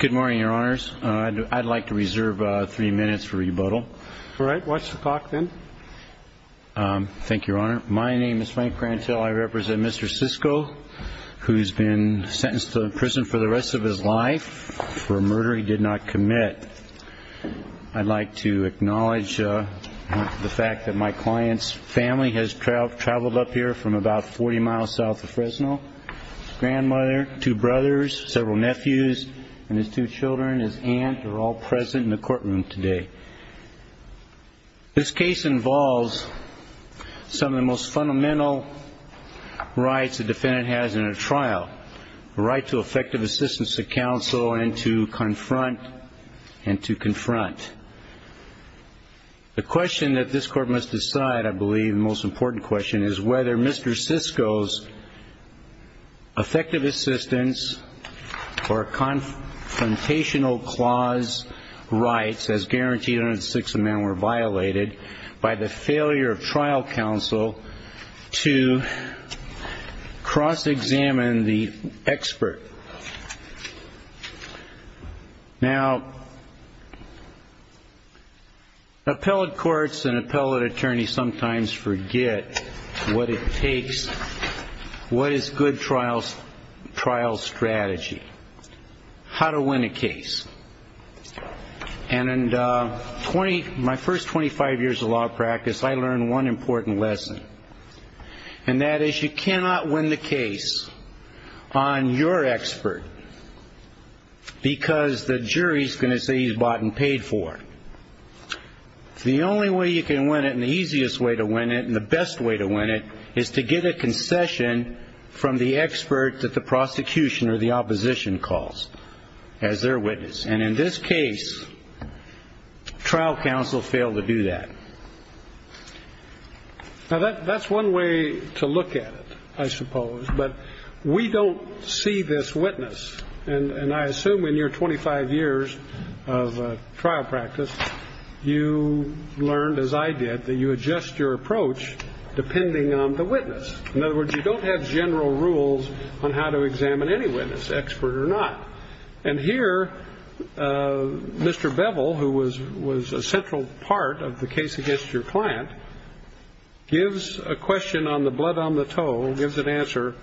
Good morning, your honors. I'd like to reserve three minutes for rebuttal. All right, watch the clock then. Thank you, your honor. My name is Frank Grantell. I represent Mr. Sisco, who's been sentenced to prison for the rest of his life for a murder he did not commit. I'd like to acknowledge the fact that my client's family has traveled up here from about 40 miles south of Fresno. His grandmother, two brothers, several nephews, and his two children, his aunt, are all present in the courtroom today. This case involves some of the most fundamental rights a defendant has in a trial, the right to effective assistance to counsel and to confront and to confront. The question that this court must decide, I believe, the most important question, is whether Mr. Sisco's effective assistance or confrontational clause rights as guaranteed under the Sixth Amendment were violated by the failure of trial counsel to cross-examine the what it takes, what is good trial strategy, how to win a case. And in my first 25 years of law practice, I learned one important lesson, and that is you cannot win the case on your expert because the jury's going to say he's bought and is to get a concession from the expert that the prosecution or the opposition calls as their witness. And in this case, trial counsel failed to do that. Now, that's one way to look at it, I suppose, but we don't see this witness. And I assume in your 25 years of trial practice, you learned, as I did, that you adjust your approach depending on the witness. In other words, you don't have general rules on how to examine any witness, expert or not. And here, Mr. Bevel, who was a central part of the case against your client, gives a question on the blood on the toe and gives an answer.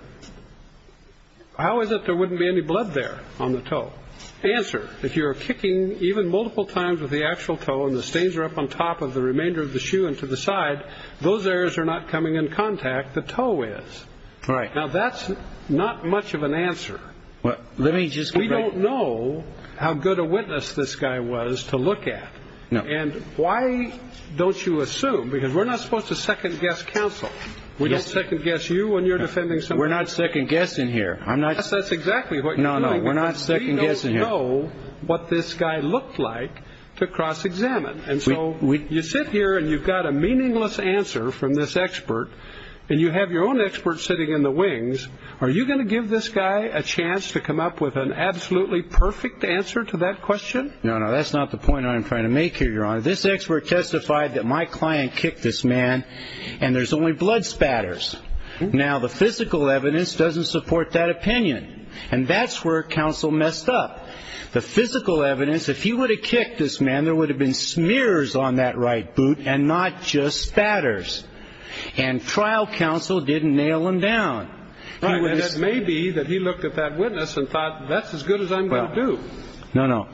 How is it there wouldn't be any blood there on the toe? Answer, if you're kicking even multiple times with the actual toe and the stains are up on top of the remainder of the shoe and to the side, those areas are not coming in contact. The toe is right now. That's not much of an answer. Well, let me just. We don't know how good a witness this guy was to look at. No. And why don't you assume? Because we're not supposed to second guess counsel. We don't second guess you when you're defending. So we're not second guessing here. I'm not. That's exactly what you know. No, we're not. So you don't know what this guy looked like to cross examine. And so you sit here and you've got a meaningless answer from this expert and you have your own experts sitting in the wings. Are you going to give this guy a chance to come up with an absolutely perfect answer to that question? No, no, that's not the point I'm trying to make here, Your Honor. This expert testified that my client kicked this man and there's only blood spatters. Now, the physical evidence doesn't support that opinion. And that's where counsel messed up the physical evidence. If he would have kicked this man, there would have been smears on that right boot and not just spatters. And trial counsel didn't nail him down. That may be that he looked at that witness and thought that's as good as I'm going to do. No, no.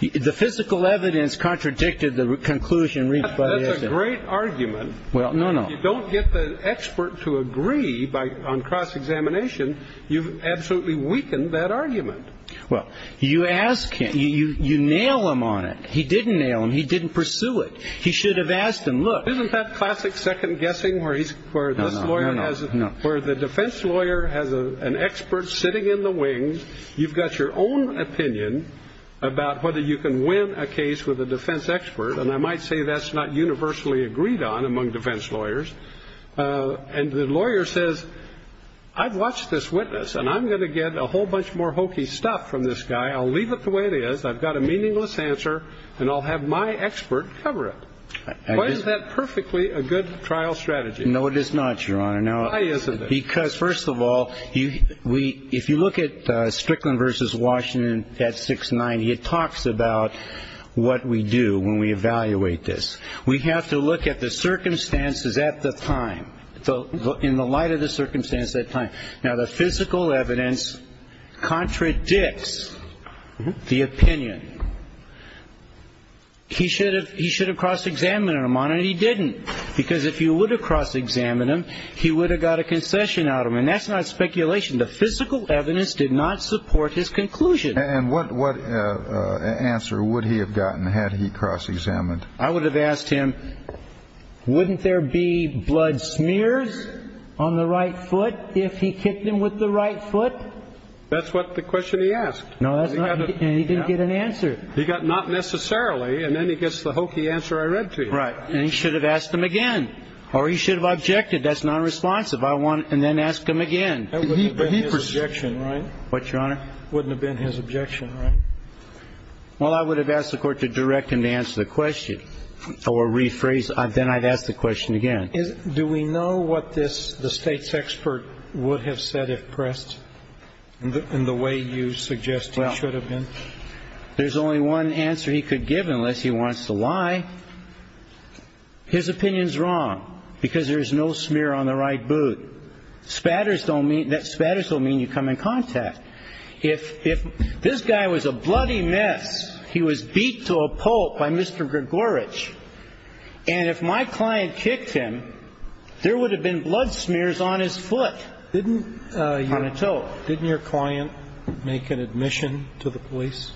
The physical evidence contradicted the conclusion reached by a great argument. Well, no, no. You don't get the expert to agree by on cross examination. You've absolutely weakened that argument. Well, you ask him, you nail him on it. He didn't nail him. He didn't pursue it. He should have asked him. Look, isn't that classic second guessing where he's where this lawyer has it, where the defense lawyer has an expert sitting in the wings. You've got your own opinion about whether you can win a case with a defense expert. And I might say that's not universally agreed on among defense lawyers. And the lawyer says, I've watched this witness and I'm going to get a whole bunch more hokey stuff from this guy. I'll leave it the way it is. I've got a meaningless answer and I'll have my expert cover it. Why is that perfectly a good trial strategy? No, it is not, Your Honor. Why isn't it? Because, first of all, if you look at Strickland versus Washington at 690, it talks about what we do when we evaluate this. We have to look at the circumstances at the time. In the light of the circumstance at that time. Now, the physical evidence contradicts the opinion. He should have cross-examined him, and he didn't. Because if you would have cross-examined him, he would have got a concession out of him. And that's not speculation. The physical evidence did not support his conclusion. And what answer would he have gotten had he cross-examined? I would have asked him, wouldn't there be blood smears on the right foot if he kicked him with the right foot? That's what the question he asked. No, that's not. And he didn't get an answer. He got not necessarily. And then he gets the hokey answer I read to him. Right. And he should have asked him again. Or he should have objected. That's non-responsive. I want to then ask him again. That wouldn't have been his objection, right? What, Your Honor? Wouldn't have been his question. Or rephrase. Then I'd ask the question again. Do we know what this, the state's expert would have said if pressed in the way you suggest it should have been? There's only one answer he could give unless he wants to lie. His opinion's wrong. Because there is no smear on the right boot. Spatters don't mean you come in contact. If this guy was a bloody mess, he was beat to a pulp by Mr. Grigorich. And if my client kicked him, there would have been blood smears on his foot. Didn't, you want to tell? Didn't your client make an admission to the police?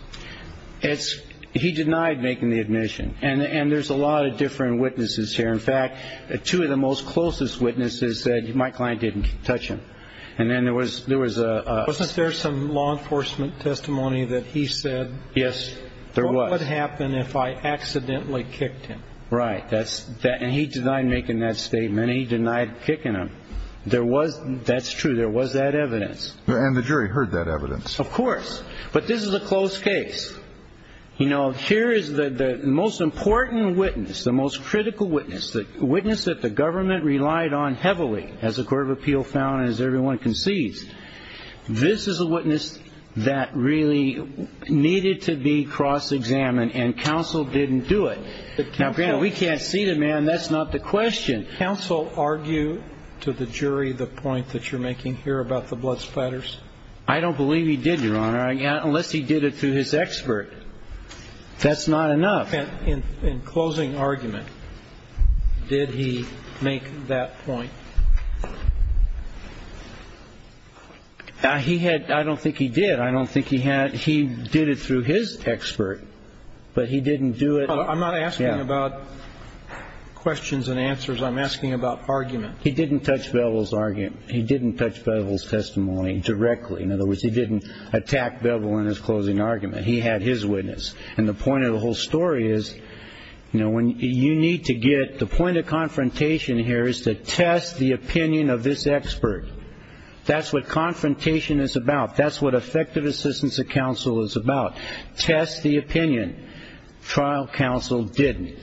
It's, he denied making the admission. And there's a lot of different witnesses here. In fact, two of the most closest witnesses said my client didn't touch him. And then there was, there was a. Wasn't there some law enforcement testimony that he said? Yes, there was. What would happen if I accidentally kicked him? Right. That's that. And he denied making that statement. He denied kicking him. There was, that's true. There was that evidence. And the jury heard that evidence. Of course. But this is a close case. You know, here is the most important witness, the most critical witness, the witness that the government relied on heavily as a court of appeal found, as everyone concedes. This is a witness that really needed to be cross-examined and counsel didn't do it. Now, granted, we can't see the man. That's not the question. Counsel argue to the jury the point that you're making here about the blood spatters? I don't believe he did, Your Honor. Unless he did it through his expert. That's not enough. In closing argument, did he make that point? He had. I don't think he did. I don't think he had. He did it through his expert, but he didn't do it. I'm not asking about questions and answers. I'm asking about argument. He didn't touch Bevel's argument. He didn't touch Bevel's testimony directly. In other words, he didn't attack Bevel in his closing argument. He had his witness. And the point of the whole story is, you know, when you need to get the point of confrontation here is to test the opinion of this expert. That's what confrontation is about. That's what effective assistance of counsel is about. Test the opinion. Trial counsel didn't.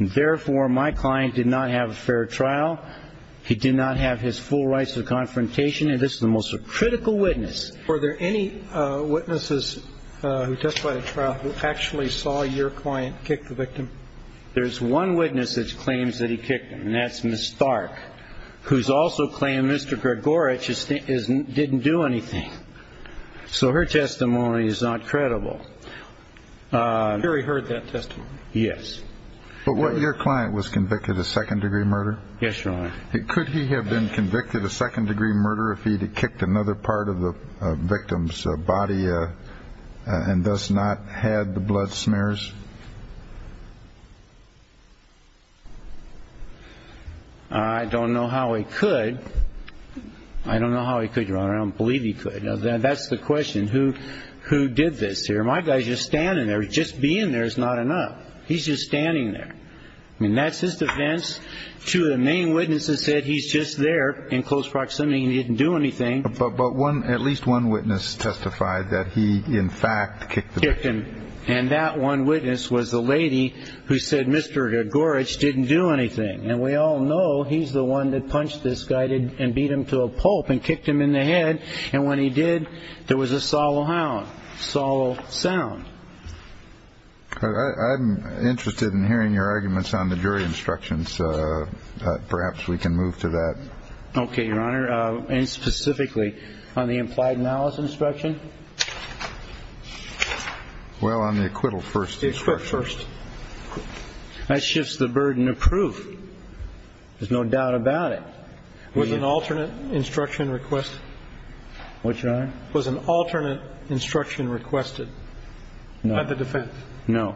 Therefore, my client did not have a fair trial. He did not have his full rights of confrontation. And this is the most critical witness. Were there any witnesses who testified at trial who actually saw your client kick the victim? There's one witness that claims that he kicked him, and that's Ms. Stark, who's also claimed Mr. Gregorich didn't do anything. So her testimony is not credible. Terry heard that testimony? Yes. But what your client was convicted of second degree murder? Yes, Your Honor. Could he have been convicted of second degree murder if he'd kicked another part of the victim's body and thus not had the blood smears? I don't know how he could. I don't know how he could, Your Honor. I don't believe he could. That's the question. Who did this here? My guy's just standing there. Just being there is not enough. He's just standing there. I mean, that's his defense. Two of the main witnesses said he's there in close proximity and didn't do anything. But at least one witness testified that he, in fact, kicked the victim. And that one witness was the lady who said Mr. Gregorich didn't do anything. And we all know he's the one that punched this guy and beat him to a pulp and kicked him in the head. And when he did, there was a solemn sound. I'm interested in hearing your arguments on the jury instructions. Perhaps we can move to that. Okay, Your Honor. And specifically on the implied malice instruction? Well, on the acquittal first. That shifts the burden of proof. There's no doubt about it. Was an alternate instruction requested? What, Your Honor? Was an alternate instruction requested by the defense? No.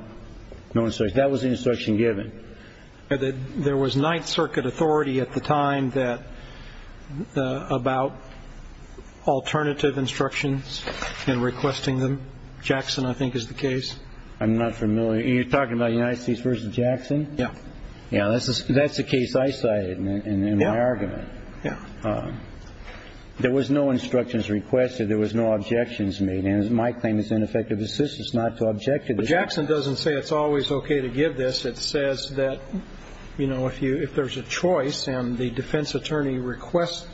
No instruction. That was the instruction given. There was Ninth Circuit authority at the time that, about alternative instructions and requesting them. Jackson, I think, is the case. I'm not familiar. You're talking about United States versus Jackson? Yeah. Yeah. That's the case I cited in my argument. Yeah. There was no instructions requested. There was no objections made. And my claim is ineffective assistance not to object. Jackson doesn't say it's always okay to give this. It says that, you know, if you if there's a choice and the defense attorney requests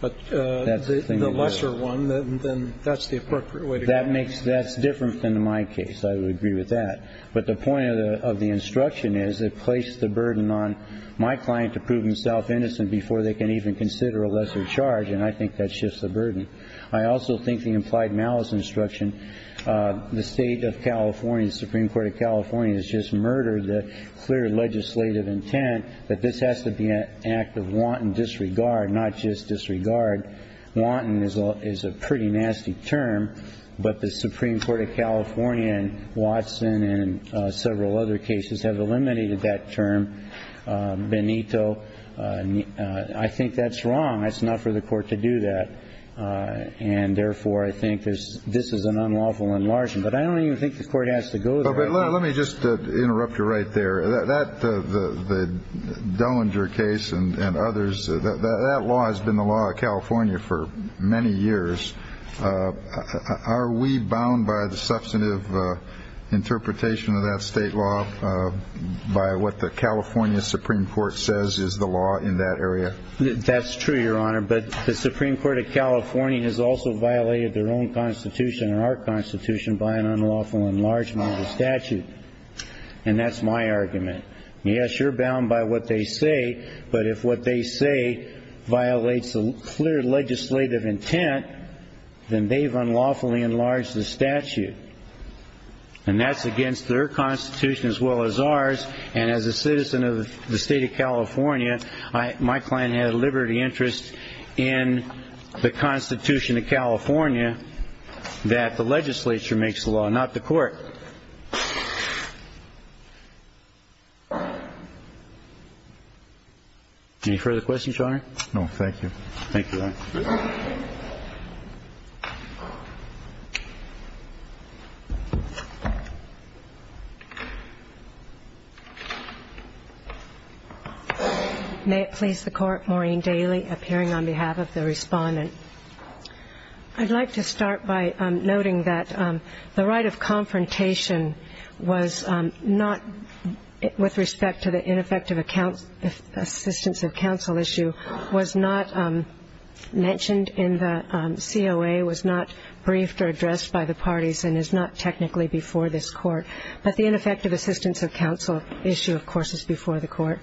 the lesser one, then that's the appropriate way to go. That makes that's different than my case. I would agree with that. But the point of the instruction is it placed the burden on my client to prove himself innocent before they can even consider a lesser charge. And I think that shifts the burden. I also think the implied malice instruction, the state of California, the Supreme Court of California has just murdered the clear legislative intent that this has to be an act of wanton disregard, not just disregard. Wanton is a pretty nasty term. But the Supreme Court of California and Watson and several other cases have eliminated that term. Benito, I think that's wrong. It's not for the court to do that. And therefore, I think there's this is an unlawful enlargement. But I don't even think the court has to go. Let me just interrupt you right there. That the Dillinger case and others, that law has been the law of California for many years. Are we bound by the substantive interpretation of that state law by what the California Supreme Court says is the law in that area? That's true, Your Honor. But the Supreme Court of California has also violated their own constitution and our constitution by an unlawful enlargement of the statute. And that's my argument. Yes, you're bound by what they say. But if what they say violates the clear legislative intent, then they've unlawfully enlarged the statute. And that's my client had a liberty interest in the Constitution of California that the legislature makes the law, not the court. Any further questions, Your Honor? No, thank you. Thank you, Your Honor. May it please the Court. Maureen Daly, appearing on behalf of the Respondent. I'd like to start by noting that the right of confrontation was not, with respect to the ineffective assistance of counsel issue, was not made by the Supreme Court. What was mentioned in the COA was not briefed or addressed by the parties and is not technically before this Court. But the ineffective assistance of counsel issue, of course, is before the Court.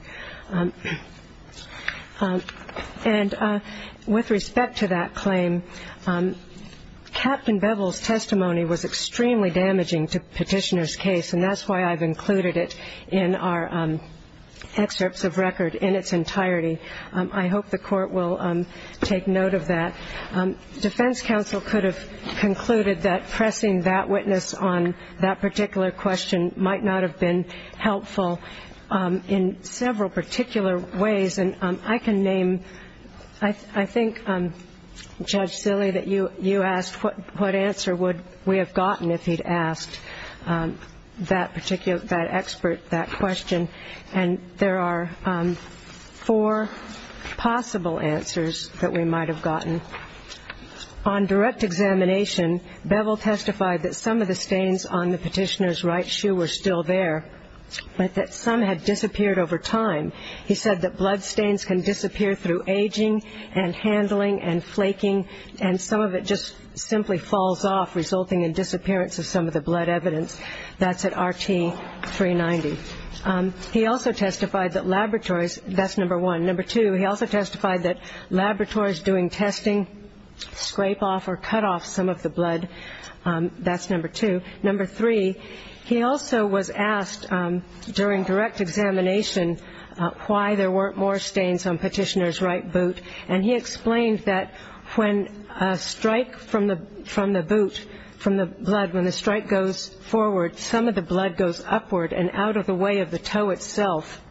And with respect to that claim, Captain Bevel's testimony was extremely damaging to Petitioner's case, and that's why I've included it in our excerpts of record in its entirety. I hope the Court will take note of that. Defense counsel could have concluded that pressing that witness on that particular question might not have been helpful in several particular ways. And I can name, I think, Judge Silley, that you asked what answer would we have gotten if he'd asked that expert that question. And there are four possible answers that we might have gotten. On direct examination, Bevel testified that some of the stains on the Petitioner's right shoe were still there, but that some had disappeared over time. He said that blood stains can disappear through aging and handling and flaking, and some of it just simply falls off, resulting in disappearance of some of the blood evidence. That's at RT 390. He also testified that laboratories, that's number one. Number two, he also testified that laboratories doing testing scrape off or cut off some of the blood. That's number two. Number three, he also was asked during direct examination why there weren't more stains on Petitioner's right boot. And he explained that when a strike from the boot, from the blood, when the strike goes forward, some of the blood goes upward and out of the way of the toe itself.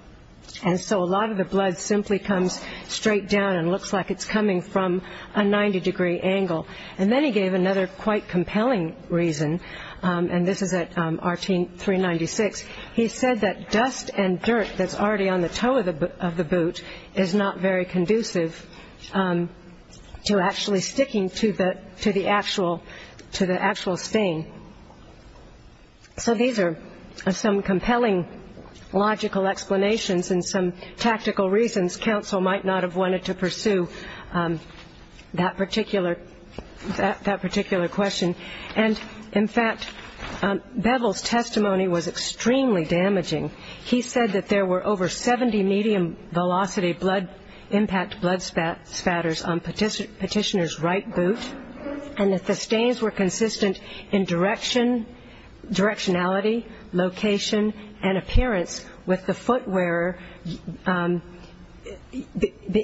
And so a lot of the blood simply comes straight down and looks like it's coming from a 90-degree angle. And then he gave another quite compelling reason, and this is at RT 396. He said that dust and dirt that's already on the toe of the boot is not very conducive to actually sticking to the actual stain. So these are some compelling logical explanations and some tactical reasons. Counsel might not have wanted to pursue that particular question. And in fact, Bevel's testimony was extremely damaging. He said that there were over 70 medium-velocity impact blood spatters on Petitioner's right boot, and that the stains were consistent in directionality, location, and appearance with the footwearer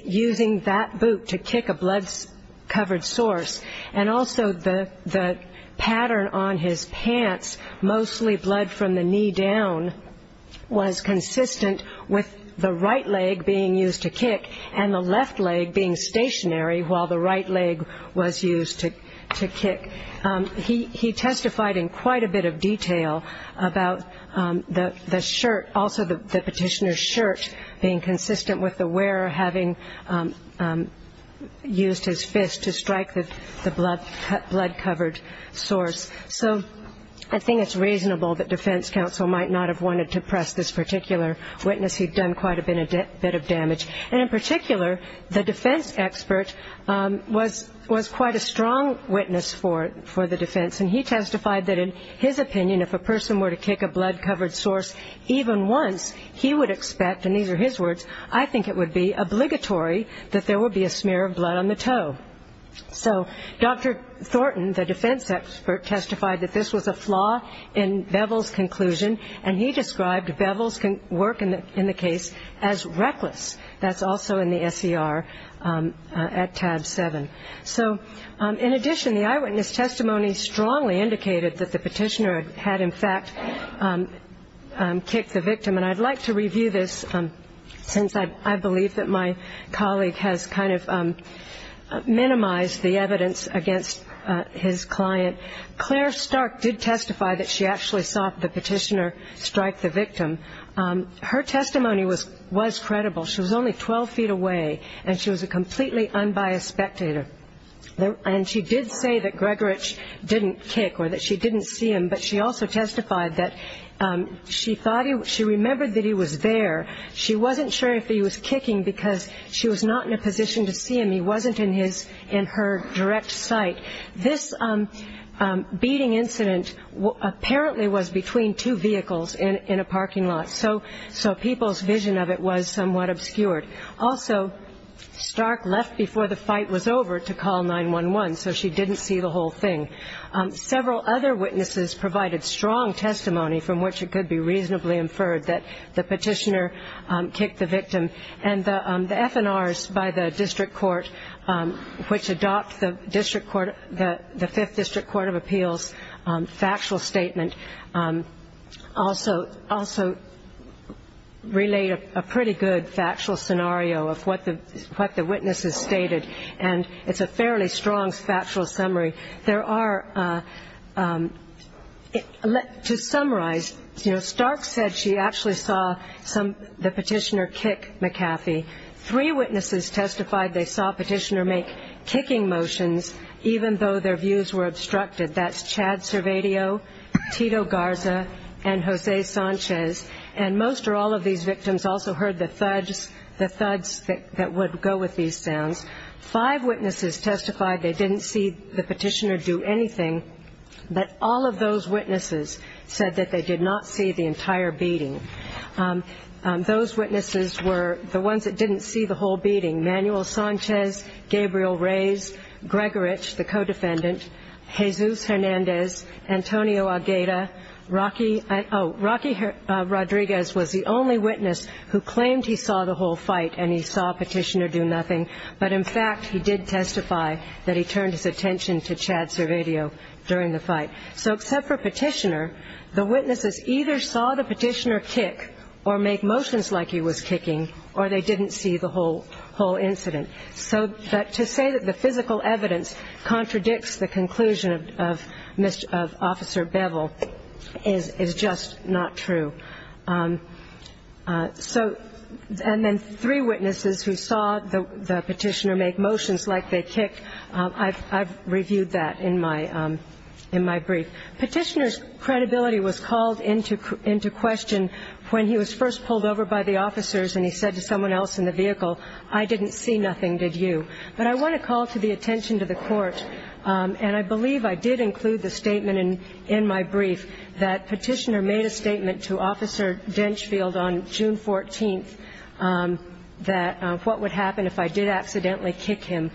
using that boot to kick a blood-covered source. And also the pattern on his pants, mostly blood from the knee down, was consistent with the right leg being used to kick and the left leg being stationary while the right leg was used to kick. He testified in quite a bit of detail about the shirt, also the Petitioner's shirt, being consistent with the wearer having used his fist to strike the blood-covered source. So I think it's reasonable that defense counsel might not have wanted to press this particular witness. He'd done quite a bit of damage. And in particular, the defense expert was quite a strong witness for the defense. And he testified that in his opinion, if a person were to kick a blood-covered source even once, he would expect, and these are his words, I think it would be obligatory that there would be a smear of blood on the toe. So Dr. Thornton, the defense expert, testified that this was a flaw in Bevel's conclusion, and he described Bevel's work in the case as reckless. That's also in the SER at tab 7. So in addition, the eyewitness testimony strongly indicated that the Petitioner had in fact kicked the victim. And I'd like to review this since I believe that my colleague has kind of minimized the evidence against his client. Claire Stark did testify that she actually saw the Petitioner strike the victim. Her testimony was credible. She was only 12 feet away, and she was a completely unbiased spectator. And she did say that Gregorich didn't kick or that she didn't see him, but she also testified that she remembered that he was there. She wasn't sure if he was kicking because she was not in a position to see him. He wasn't in her direct sight. This beating incident apparently was between two vehicles in a parking lot, so people's vision of it was somewhat obscured. Also, Stark left before the fight was over to call 911, so she didn't see the whole thing. Several other witnesses provided strong testimony from which it could be reasonably inferred that the Petitioner kicked the victim. And the FNRs by the district court, which adopt the district court, the Fifth District Court of Appeals factual statement, also relayed a pretty good factual scenario of what the witnesses stated, and it's a fairly strong factual summary. There are, to summarize, Stark said she actually saw the Petitioner kick McCaffey. Three witnesses testified they saw Petitioner make kicking motions even though their views were obstructed. That's Chad Servadio, Tito Garza, and Jose Sanchez. And most or all of these victims also heard the thuds that would go with these sounds. Five witnesses testified they didn't see the Petitioner do anything, but all of those witnesses said that they did not see the entire beating. Those witnesses were the ones that didn't see the whole beating, Manuel Sanchez, Gabriel Reyes, Gregorich, the co-defendant, Jesus Hernandez, Antonio Agueda, Rocky Rodriguez was the only witness who claimed he saw the whole fight and he saw Petitioner do nothing. But, in fact, he did testify that he turned his attention to Chad Servadio during the fight. So except for Petitioner, the witnesses either saw the Petitioner kick or make motions like he was kicking, or they didn't see the whole incident. So to say that the physical evidence contradicts the conclusion of Officer Bevel is just not true. And then three witnesses who saw the Petitioner make motions like they kicked, I've reviewed that in my brief. Petitioner's credibility was called into question when he was first pulled over by the officers and he said to someone else in the vehicle, I didn't see nothing, did you? But I want to call to the attention to the Court, and I believe I did include the statement in my brief that Petitioner made a statement to Officer Denchfield on June 14th that what would happen if I did accidentally kick him.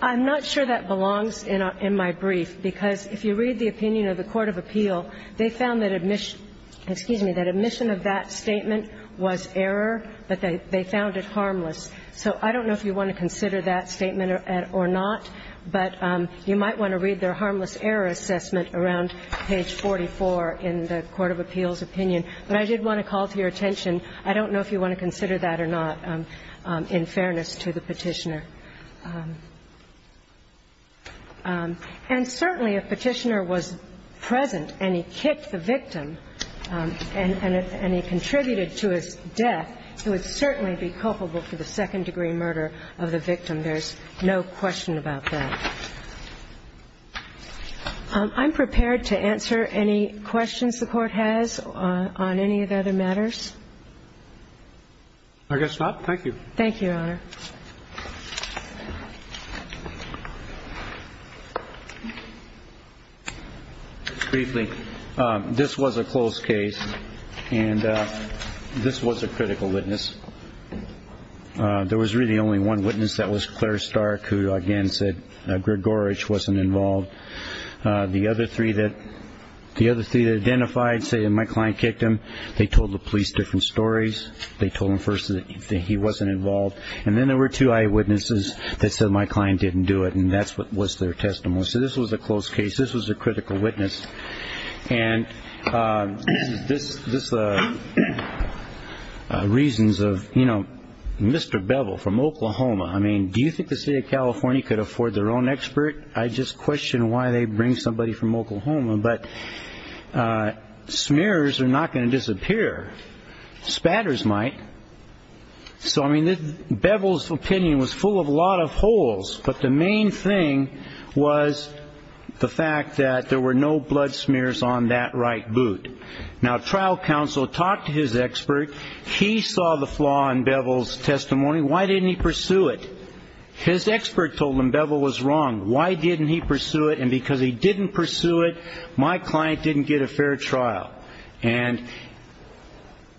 I'm not sure that belongs in my brief, because if you read the opinion of the Court of Appeal, they found that admission of that statement was error, but they found it harmless. So I don't know if you want to consider that statement or not, but you might want to read their harmless error assessment around page 44 in the Court of Appeal's opinion. But I did want to call to your attention, I don't know if you want to consider that or not, in fairness to the Petitioner. And certainly if Petitioner was present and he kicked the victim and he contributed to his death, he would certainly be culpable for the second-degree murder of the victim. There's no question about that. I'm prepared to answer any questions the Court has on any of the other matters. I guess not. Thank you. Thank you, Your Honor. Briefly, this was a closed case, and this was a critical witness. There was really only one witness. That was Claire Stark, who, again, said Gregorich wasn't involved. The other three that identified, say my client kicked him, they told the police different stories. They told them first that he wasn't involved. And then there were two eyewitnesses that said my client didn't do it, and that was their testimony. So this was a closed case. This was a critical witness. And this is the reasons of, you know, Mr. Bevel from Oklahoma. I mean, do you think the State of California could afford their own expert? I just question why they bring somebody from Oklahoma. But smears are not going to disappear. Spatters might. So, I mean, Bevel's opinion was full of a lot of holes, but the main thing was the fact that there were no blood smears on that right boot. Now, trial counsel talked to his expert. He saw the flaw in Bevel's testimony. Why didn't he pursue it? His expert told him Bevel was wrong. Why didn't he pursue it? And because he didn't pursue it, my client didn't get a fair trial. And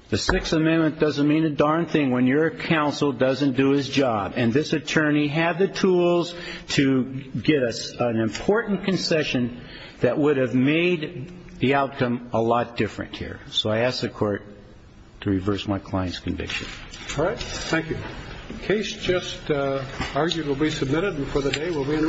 the Sixth Amendment doesn't mean a darn thing when your counsel doesn't do his job. And this attorney had the tools to get us an important concession that would have made the outcome a lot different here. So I ask the Court to reverse my client's conviction. All right. Thank you. Case just arguably submitted. And for the day, we'll be in recess.